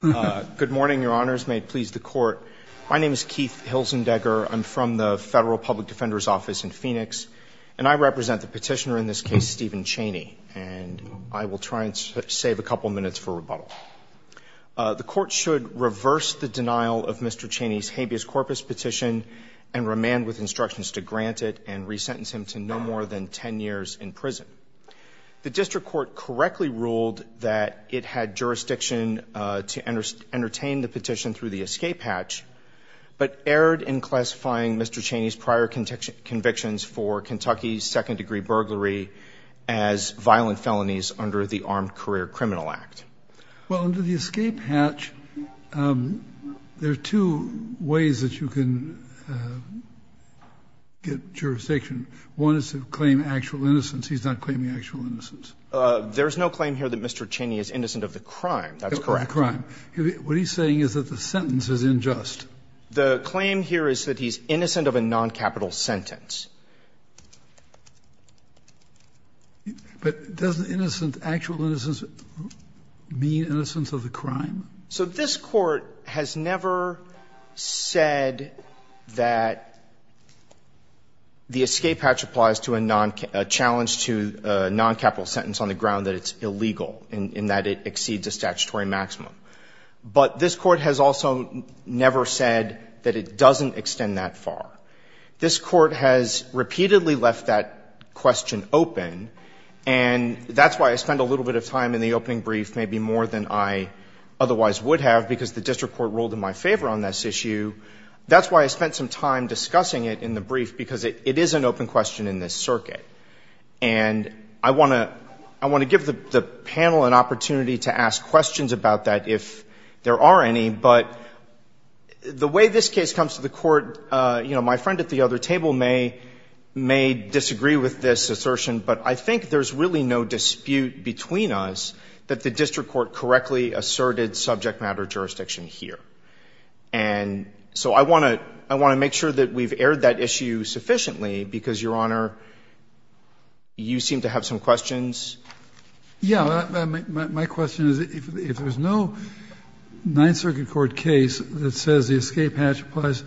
Good morning, your honors. May it please the court. My name is Keith Hilzendegger. I'm from the Federal Public Defender's Office in Phoenix, and I represent the petitioner in this case, Stephen Chaney, and I will try and save a couple minutes for rebuttal. The court should reverse the denial of Mr. Chaney's habeas corpus petition and remand with instructions to grant it and resentence him to no more than 10 years in prison. The district court correctly ruled that it had jurisdiction to entertain the petition through the escape hatch, but erred in classifying Mr. Chaney's prior convictions for Kentucky second-degree burglary as violent felonies under the Armed Career Criminal Act. Well, under the escape hatch, there are two ways that you can get jurisdiction. One is to claim actual innocence. He's not claiming actual innocence. There's no claim here that Mr. Chaney is innocent of the crime. That's correct. The crime. What he's saying is that the sentence is unjust. The claim here is that he's innocent of a noncapital sentence. But doesn't innocent, actual innocence mean innocence of the crime? So this Court has never said that the escape hatch applies to a noncapital, a challenge to a noncapital sentence on the ground that it's illegal and that it exceeds a statutory maximum. But this Court has also never said that it doesn't extend that far. This Court has repeatedly left that question open, and that's why I spent a little bit of time in the opening brief, maybe more than I otherwise would have, because the district court ruled in my favor on this issue. That's why I spent some time discussing it in the brief, because it is an open question in this circuit. And I want to give the panel an opportunity to ask questions about that if there are any. But the way this case comes to the Court, you know, my friend at the other table may disagree with this assertion. But I think there's really no dispute between us that the district court correctly asserted subject matter jurisdiction here. And so I want to make sure that we've aired that issue sufficiently, because, Your Honor, you seem to have some questions. Yeah, my question is, if there's no Ninth Circuit court case that says the escape hatch applies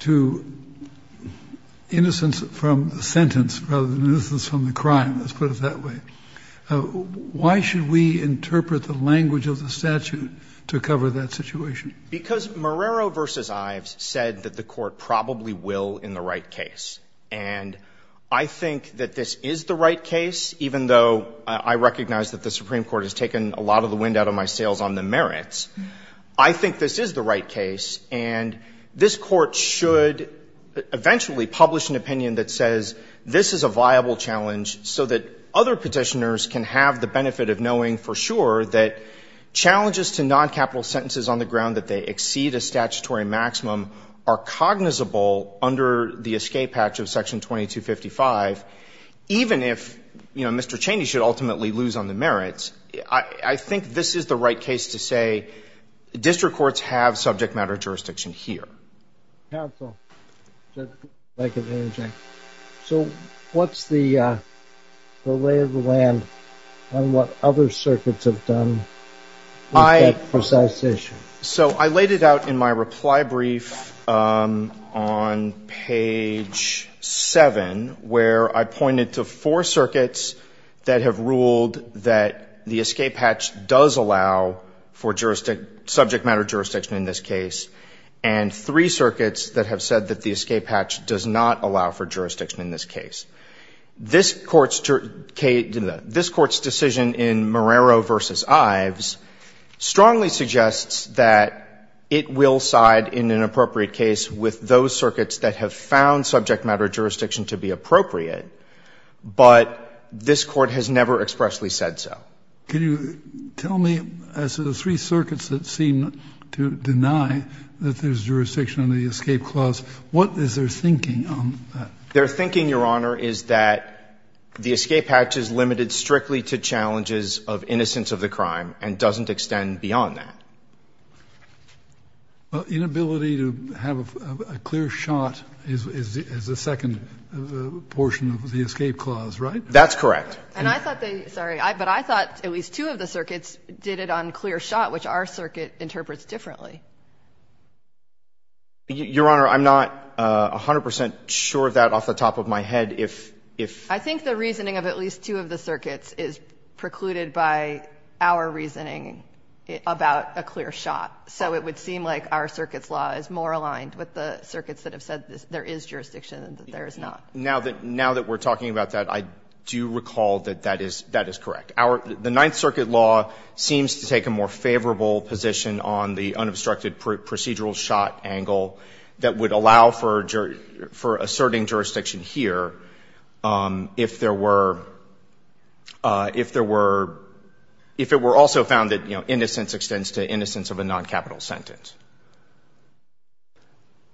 to innocence from the sentence rather than innocence from the crime, let's put it that way, why should we interpret the language of the statute to cover that situation? Because Marrero v. Ives said that the Court probably will in the right case. And I think that this is the right case, even though I recognize that the Supreme Court has taken a lot of the wind out of my sails on the merits. I think this is the right case. And this Court should eventually publish an opinion that says this is a viable challenge so that other Petitioners can have the benefit of knowing for sure that challenges to noncapital sentences on the ground that they exceed a statutory maximum are cognizable under the escape hatch of Section 2255, even if, you know, Mr. Cheney should ultimately lose on the merits. I think this is the right case to say district courts have subject matter jurisdiction here. Counsel. Judge Blanken. So what's the lay of the land on what other circuits have done with that precise issue? So I laid it out in my reply brief on page 7, where I pointed to four circuits that have ruled that the escape hatch does allow for jurisdiction, subject matter jurisdiction in this case, and three circuits that have said that the escape hatch does not allow for jurisdiction in this case. This Court's decision in Marrero v. Ives strongly suggests that it will side in an appropriate case with those circuits that have found subject matter jurisdiction to be appropriate, but this Court has never expressly said so. Can you tell me, as to the three circuits that seem to deny that there's jurisdiction under the escape clause, what is their thinking on that? Their thinking, Your Honor, is that the escape hatch is limited strictly to challenges of innocence of the crime and doesn't extend beyond that. Well, inability to have a clear shot is the second portion of the escape clause, right? That's correct. And I thought they, sorry, but I thought at least two of the circuits did it on clear shot, which our circuit interprets differently. Your Honor, I'm not 100 percent sure of that off the top of my head. If, if. I think the reasoning of at least two of the circuits is precluded by our reasoning about a clear shot, so it would seem like our circuit's law is more aligned with the circuits that have said there is jurisdiction than there is not. Now that, now that we're talking about that, I do recall that that is, that is correct. Our, the Ninth Circuit law seems to take a more favorable position on the unobstructed procedural shot angle that would allow for, for asserting jurisdiction here if there were, if there were, if it were also found that, you know, innocence extends to innocence of a noncapital sentence.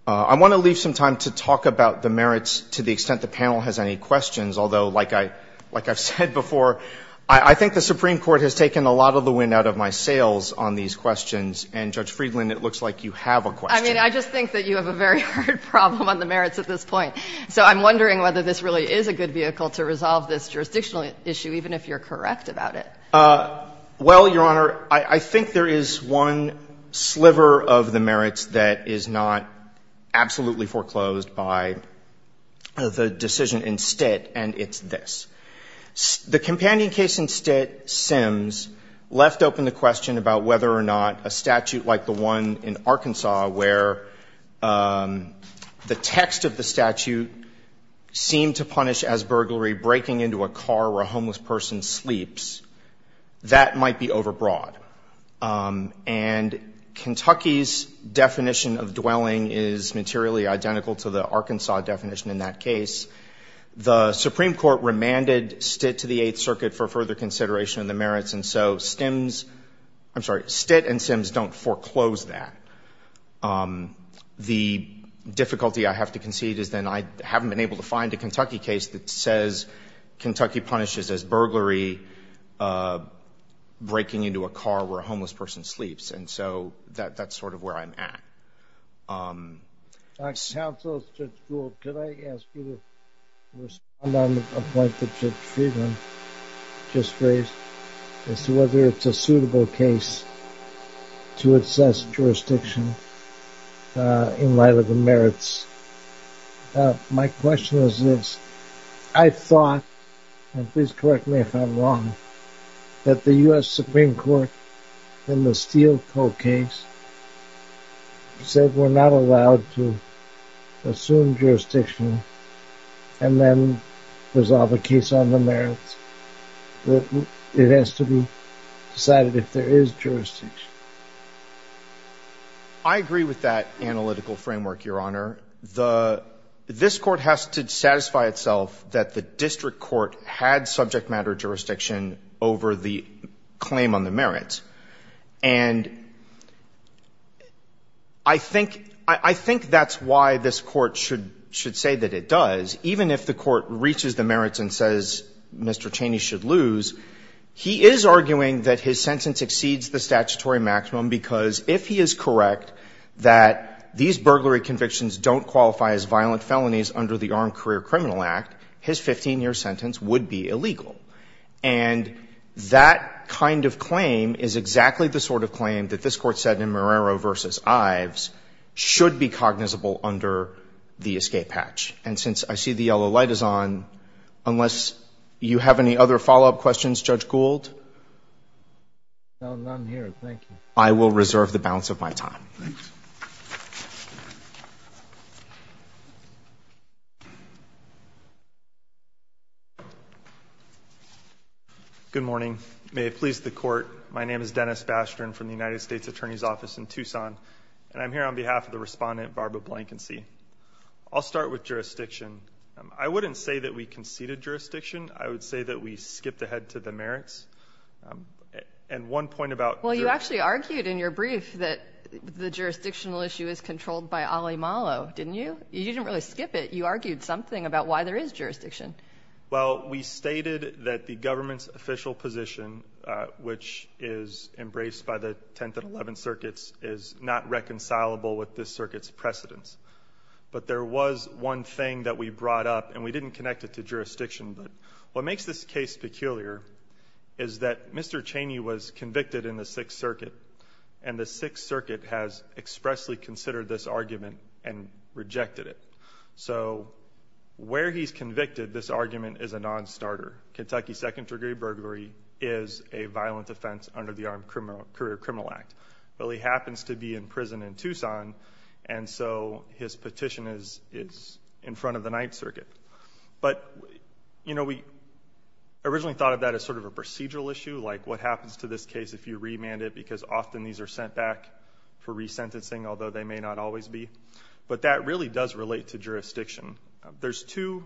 I want to leave some time to talk about the merits to the extent the panel has any questions, although like I, like I've said before, I, I think the Supreme Court has taken a lot of the wind out of my sails on these questions, and Judge Friedland, it looks like you have a question. I mean, I just think that you have a very hard problem on the merits at this point. So I'm wondering whether this really is a good vehicle to resolve this jurisdictional issue, even if you're correct about it. Well, Your Honor, I, I think there is one sliver of the merits that is not absolutely foreclosed by the decision in Stitt, and it's this. The companion case in Stitt, Sims, left open the question about whether or not a statute like the one in Arkansas where the text of the statute seemed to punish as burglary breaking into a car where a homeless person sleeps, that might be overbroad. And Kentucky's definition of dwelling is materially identical to the Arkansas definition in that case. The Supreme Court remanded Stitt to the Eighth Circuit for further consideration of the merits, and so Stims, I'm sorry, Stitt and Sims don't foreclose that. The difficulty I have to concede is then I haven't been able to find a Kentucky case that says Kentucky punishes as burglary breaking into a car where a homeless person sleeps, and so that, that's sort of where I'm at. Counsel, Judge Gould, could I ask you to respond on a point that Judge Friedman just raised as to whether it's a suitable case to assess jurisdiction in light of the merits? My question is this. I thought, and please correct me if I'm wrong, that the U.S. Supreme Court in the Steele Co. case said we're not allowed to assume jurisdiction and then resolve a case on the merits. It has to be decided if there is jurisdiction. I agree with that analytical framework, Your Honor. This Court has to satisfy itself that the district court had subject matter jurisdiction over the claim on the merits. And I think that's why this Court should say that it does. Even if the Court reaches the merits and says Mr. Cheney should lose, he is arguing that his sentence exceeds the statutory maximum because if he is correct that these burglary convictions don't qualify as violent felonies under the Armed Career Criminal Act, his 15-year sentence would be illegal. And that kind of claim is exactly the sort of claim that this Court said in Marrero v. Ives should be cognizable under the escape hatch. And since I see the yellow light is on, unless you have any other follow-up questions, Judge Gould? No, none here. Thank you. I will reserve the balance of my time. Thanks. Good morning. May it please the Court, my name is Dennis Bastian from the United States Attorney's Office in Tucson, and I'm here on behalf of the respondent, Barbara Blankensy. I'll start with jurisdiction. I wouldn't say that we conceded jurisdiction. I would say that we skipped ahead to the merits. And one point about – Well, you actually argued in your brief that the jurisdictional issue is controlled by Ali Malo, didn't you? You didn't really skip it. You argued something about why there is jurisdiction. Well, we stated that the government's official position, which is embraced by the 10th and 11th circuits, is not reconcilable with this circuit's precedents. But there was one thing that we brought up, and we didn't connect it to this case. What makes this case peculiar is that Mr. Cheney was convicted in the Sixth Circuit, and the Sixth Circuit has expressly considered this argument and rejected it. So where he's convicted, this argument is a non-starter. Kentucky second-degree burglary is a violent offense under the Armed Career Criminal Act. Well, he happens to be in prison in Tucson, and so his petition is in front of the Ninth Circuit. But, you know, we originally thought of that as sort of a procedural issue, like what happens to this case if you remand it, because often these are sent back for resentencing, although they may not always be. But that really does relate to jurisdiction. There's two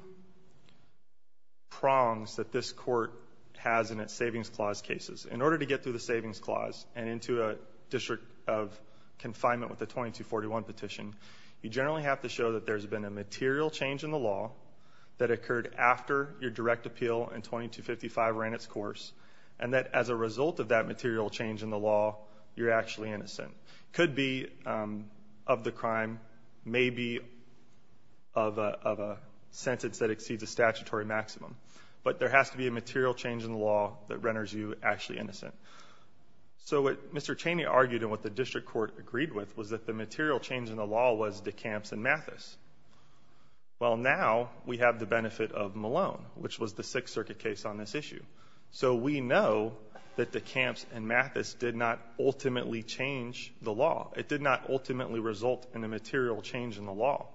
prongs that this court has in its Savings Clause cases. In order to get through the Savings Clause and into a district of confinement with a 2241 petition, you generally have to show that there's been a material change in the law that occurred after your direct appeal and 2255 ran its course, and that as a result of that material change in the law, you're actually innocent. It could be of the crime, maybe of a sentence that exceeds a statutory maximum, but there has to be a material change in the law that renders you actually innocent. So what Mr. Cheney argued and what the district court agreed with was that the Well, now we have the benefit of Malone, which was the Sixth Circuit case on this issue. So we know that the camps and Mathis did not ultimately change the law. It did not ultimately result in a material change in the law.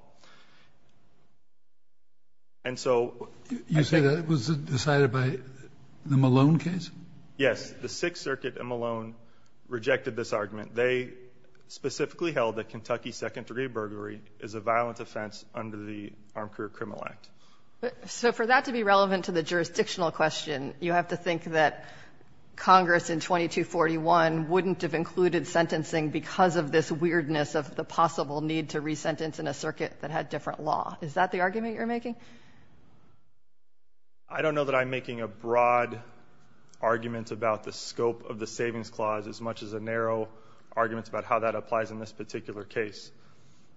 And so... You say that it was decided by the Malone case? Yes. The Sixth Circuit and Malone rejected this argument. They specifically held that Kentucky second-degree burglary is a violent offense under the Armed Career Criminal Act. So for that to be relevant to the jurisdictional question, you have to think that Congress in 2241 wouldn't have included sentencing because of this weirdness of the possible need to re-sentence in a circuit that had different law. Is that the argument you're making? I don't know that I'm making a broad argument about the scope of the Savings Clause as much as a narrow argument about how that applies in this particular case.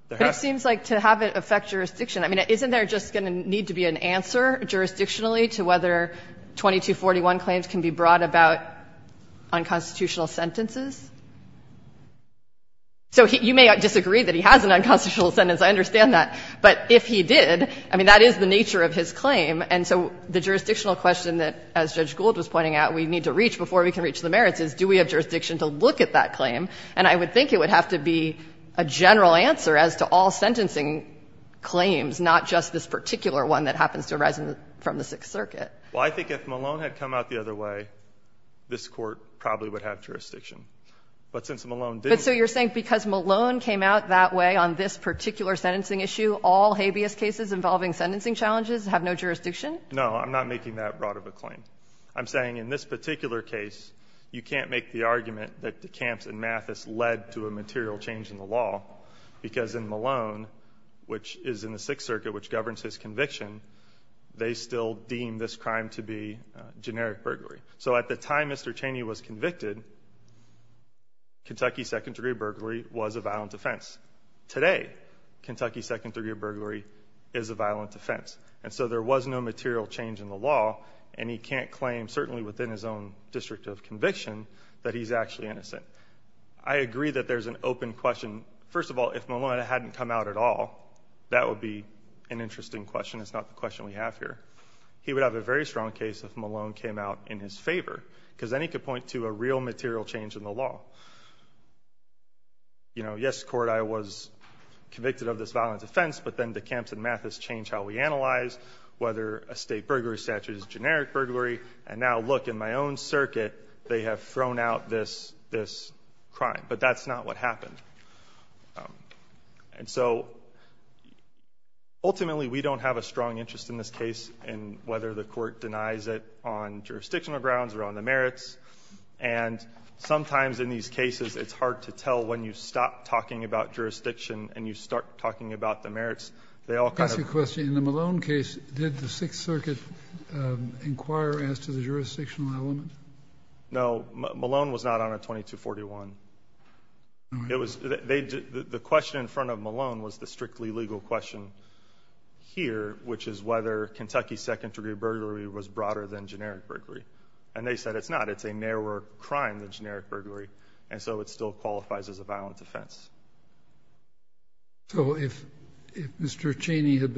But it seems like to have it affect jurisdiction, I mean, isn't there just going to need to be an answer jurisdictionally to whether 2241 claims can be brought about on constitutional sentences? So you may disagree that he has an unconstitutional sentence. I understand that. But if he did, I mean, that is the nature of his claim. And so the jurisdictional question that, as Judge Gould was pointing out, we need to reach before we can reach the merits is do we have jurisdiction to look at that claim? And I would think it would have to be a general answer as to all sentencing claims, not just this particular one that happens to arise from the Sixth Circuit. Well, I think if Malone had come out the other way, this Court probably would have jurisdiction. But since Malone didn't. But so you're saying because Malone came out that way on this particular sentencing issue, all habeas cases involving sentencing challenges have no jurisdiction? No. I'm not making that broad of a claim. I'm saying in this particular case, you can't make the argument that the camps in Mathis led to a material change in the law. Because in Malone, which is in the Sixth Circuit, which governs his conviction, they still deem this crime to be generic burglary. So at the time Mr. Cheney was convicted, Kentucky second-degree burglary was a violent offense. Today, Kentucky second-degree burglary is a violent offense. And so there was no material change in the law. And he can't claim, certainly within his own district of conviction, that he's actually innocent. I agree that there's an open question. First of all, if Malone hadn't come out at all, that would be an interesting question. It's not the question we have here. He would have a very strong case if Malone came out in his favor. Because then he could point to a real material change in the law. You know, yes, court, I was convicted of this violent offense. But then DeCamps and Mathis change how we analyze whether a state burglary statute is generic burglary. And now, look, in my own circuit, they have thrown out this crime. But that's not what happened. And so ultimately, we don't have a strong interest in this case in whether the court denies it on jurisdictional grounds or on the merits. And sometimes in these cases, it's hard to tell when you stop talking about merits. In the Malone case, did the Sixth Circuit inquire as to the jurisdictional element? No. Malone was not on a 2241. The question in front of Malone was the strictly legal question here, which is whether Kentucky second-degree burglary was broader than generic burglary. And they said it's not. It's a narrower crime than generic burglary. And so it still qualifies as a violent offense. So if Mr. Cheney had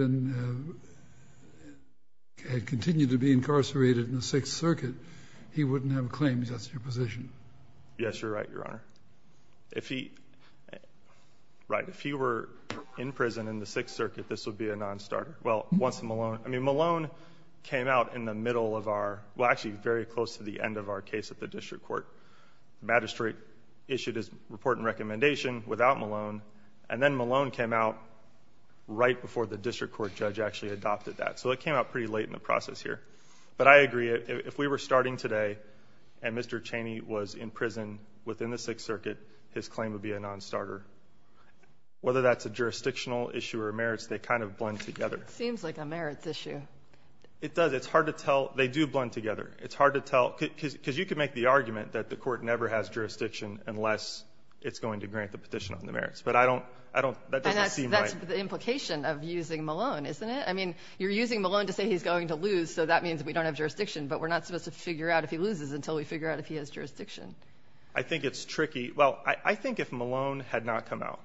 continued to be incarcerated in the Sixth Circuit, he wouldn't have claimed that's your position? Yes, you're right, Your Honor. If he were in prison in the Sixth Circuit, this would be a non-starter. Well, once Malone came out in the middle of our – well, actually, very close to the end of our case at the district court. The magistrate issued his report and recommendation without Malone, and then Malone came out right before the district court judge actually adopted that. So it came out pretty late in the process here. But I agree. If we were starting today and Mr. Cheney was in prison within the Sixth Circuit, his claim would be a non-starter. Whether that's a jurisdictional issue or merits, they kind of blend together. It seems like a merits issue. It does. It's hard to tell. They do blend together. It's hard to tell because you could make the argument that the court never has jurisdiction unless it's going to grant the petition on the merits. But I don't – that doesn't seem right. And that's the implication of using Malone, isn't it? I mean, you're using Malone to say he's going to lose, so that means we don't have jurisdiction, but we're not supposed to figure out if he loses until we figure out if he has jurisdiction. I think it's tricky. Well, I think if Malone had not come out,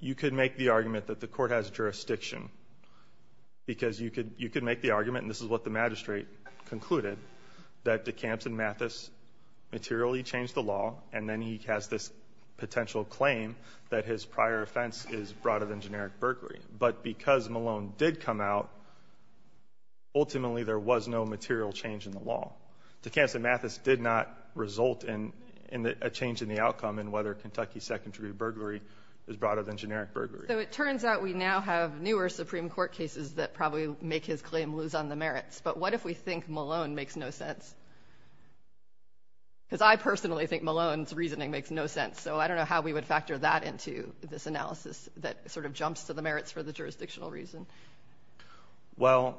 you could make the argument that the magistrate concluded that de Camps and Mathis materially changed the law, and then he has this potential claim that his prior offense is broader than generic burglary. But because Malone did come out, ultimately there was no material change in the law. De Camps and Mathis did not result in a change in the outcome in whether Kentucky second-degree burglary is broader than generic burglary. So it turns out we now have newer Supreme Court cases that probably make his claim lose on the merits. But what if we think Malone makes no sense? Because I personally think Malone's reasoning makes no sense, so I don't know how we would factor that into this analysis that sort of jumps to the merits for the jurisdictional reason. Well,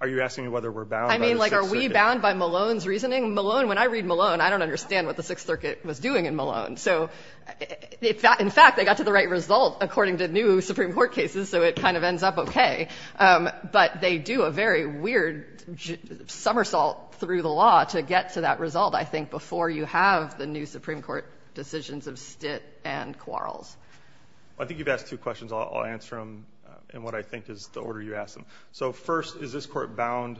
are you asking whether we're bound by the Sixth Circuit? I mean, like, are we bound by Malone's reasoning? Malone – when I read Malone, I don't understand what the Sixth Circuit was doing in Malone. So in fact, they got to the right result according to new Supreme Court cases, so it kind of ends up okay. But they do a very weird somersault through the law to get to that result, I think, before you have the new Supreme Court decisions of Stitt and Quarles. I think you've asked two questions. I'll answer them in what I think is the order you asked them. So first, is this Court bound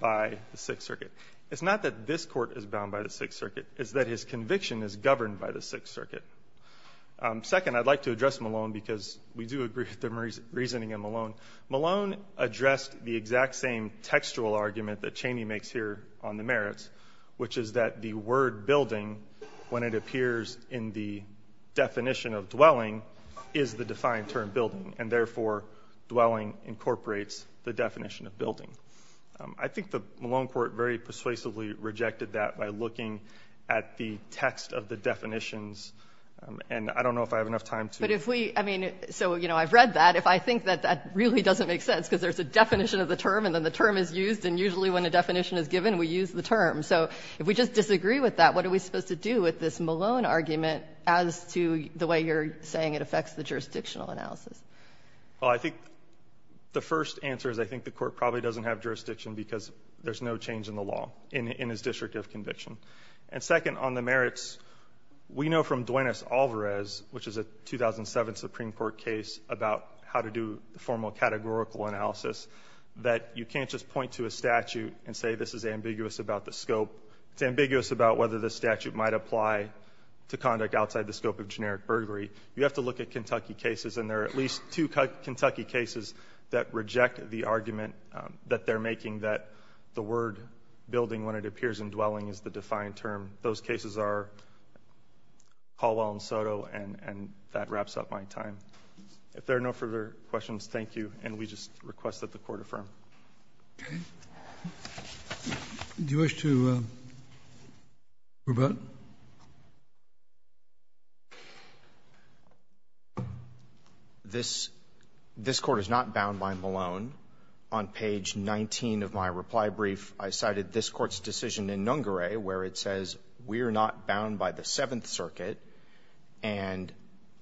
by the Sixth Circuit? It's not that this Court is bound by the Sixth Circuit. It's that his conviction is governed by the Sixth Circuit. Second, I'd like to address Malone because we do agree with the reasoning in Malone. Malone addressed the exact same textual argument that Cheney makes here on the merits, which is that the word building, when it appears in the definition of dwelling, is the defined term building, and therefore dwelling incorporates the definition of building. I think the Malone Court very persuasively rejected that by looking at the text of the definitions, and I don't know if I have enough time to. But if we, I mean, so, you know, I've read that. If I think that that really doesn't make sense because there's a definition of the term and then the term is used, and usually when a definition is given, we use the term. So if we just disagree with that, what are we supposed to do with this Malone argument as to the way you're saying it affects the jurisdictional analysis? Well, I think the first answer is I think the Court probably doesn't have jurisdiction because there's no change in the law in his district of conviction. And second, on the merits, we know from Duenas-Alvarez, which is a 2007 Supreme Court case about how to do the formal categorical analysis, that you can't just point to a statute and say this is ambiguous about the scope. It's ambiguous about whether the statute might apply to conduct outside the scope of generic burglary. You have to look at Kentucky cases, and there are at least two Kentucky cases that reject the argument that they're making that the word building, when it is used, is the defined term. Those cases are Caldwell and Soto, and that wraps up my time. If there are no further questions, thank you, and we just request that the Court affirm. Okay. Do you wish to rebut? This Court is not bound by Malone. On page 19 of my reply brief, I cited this Court's decision in Nungaray, where it says we are not bound by the Seventh Circuit, and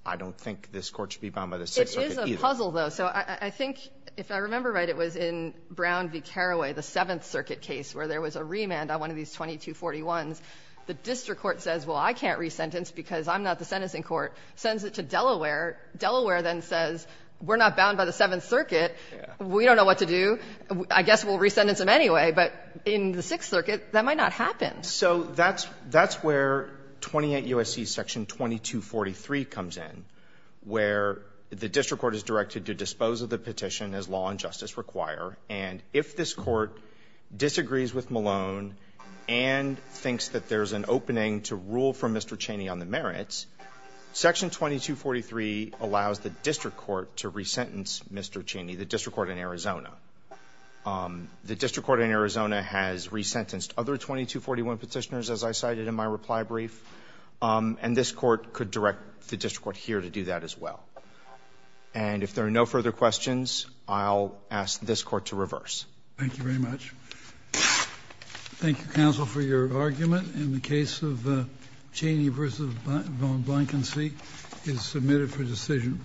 I don't think this Court should be bound by the Sixth Circuit either. It is a puzzle, though. So I think, if I remember right, it was in Brown v. Carraway, the Seventh Circuit case, where there was a remand on one of these 2241s. The district court says, well, I can't resentence because I'm not the sentencing court, sends it to Delaware. Delaware then says, we're not bound by the Seventh Circuit. We don't know what to do. I guess we'll resentence him anyway. But in the Sixth Circuit, that might not happen. So that's where 28 U.S.C. Section 2243 comes in, where the district court is directed to dispose of the petition as law and justice require. And if this Court disagrees with Malone and thinks that there's an opening to rule from Mr. Cheney on the merits, Section 2243 allows the district court to resentence Mr. Cheney, the district court in Arizona. The district court in Arizona has resentenced other 2241 petitioners, as I cited in my reply brief. And this Court could direct the district court here to do that as well. And if there are no further questions, I'll ask this Court to reverse. Thank you very much. Thank you, Counsel, for your argument. And the case of Cheney v. Von Blankensee is submitted for decision.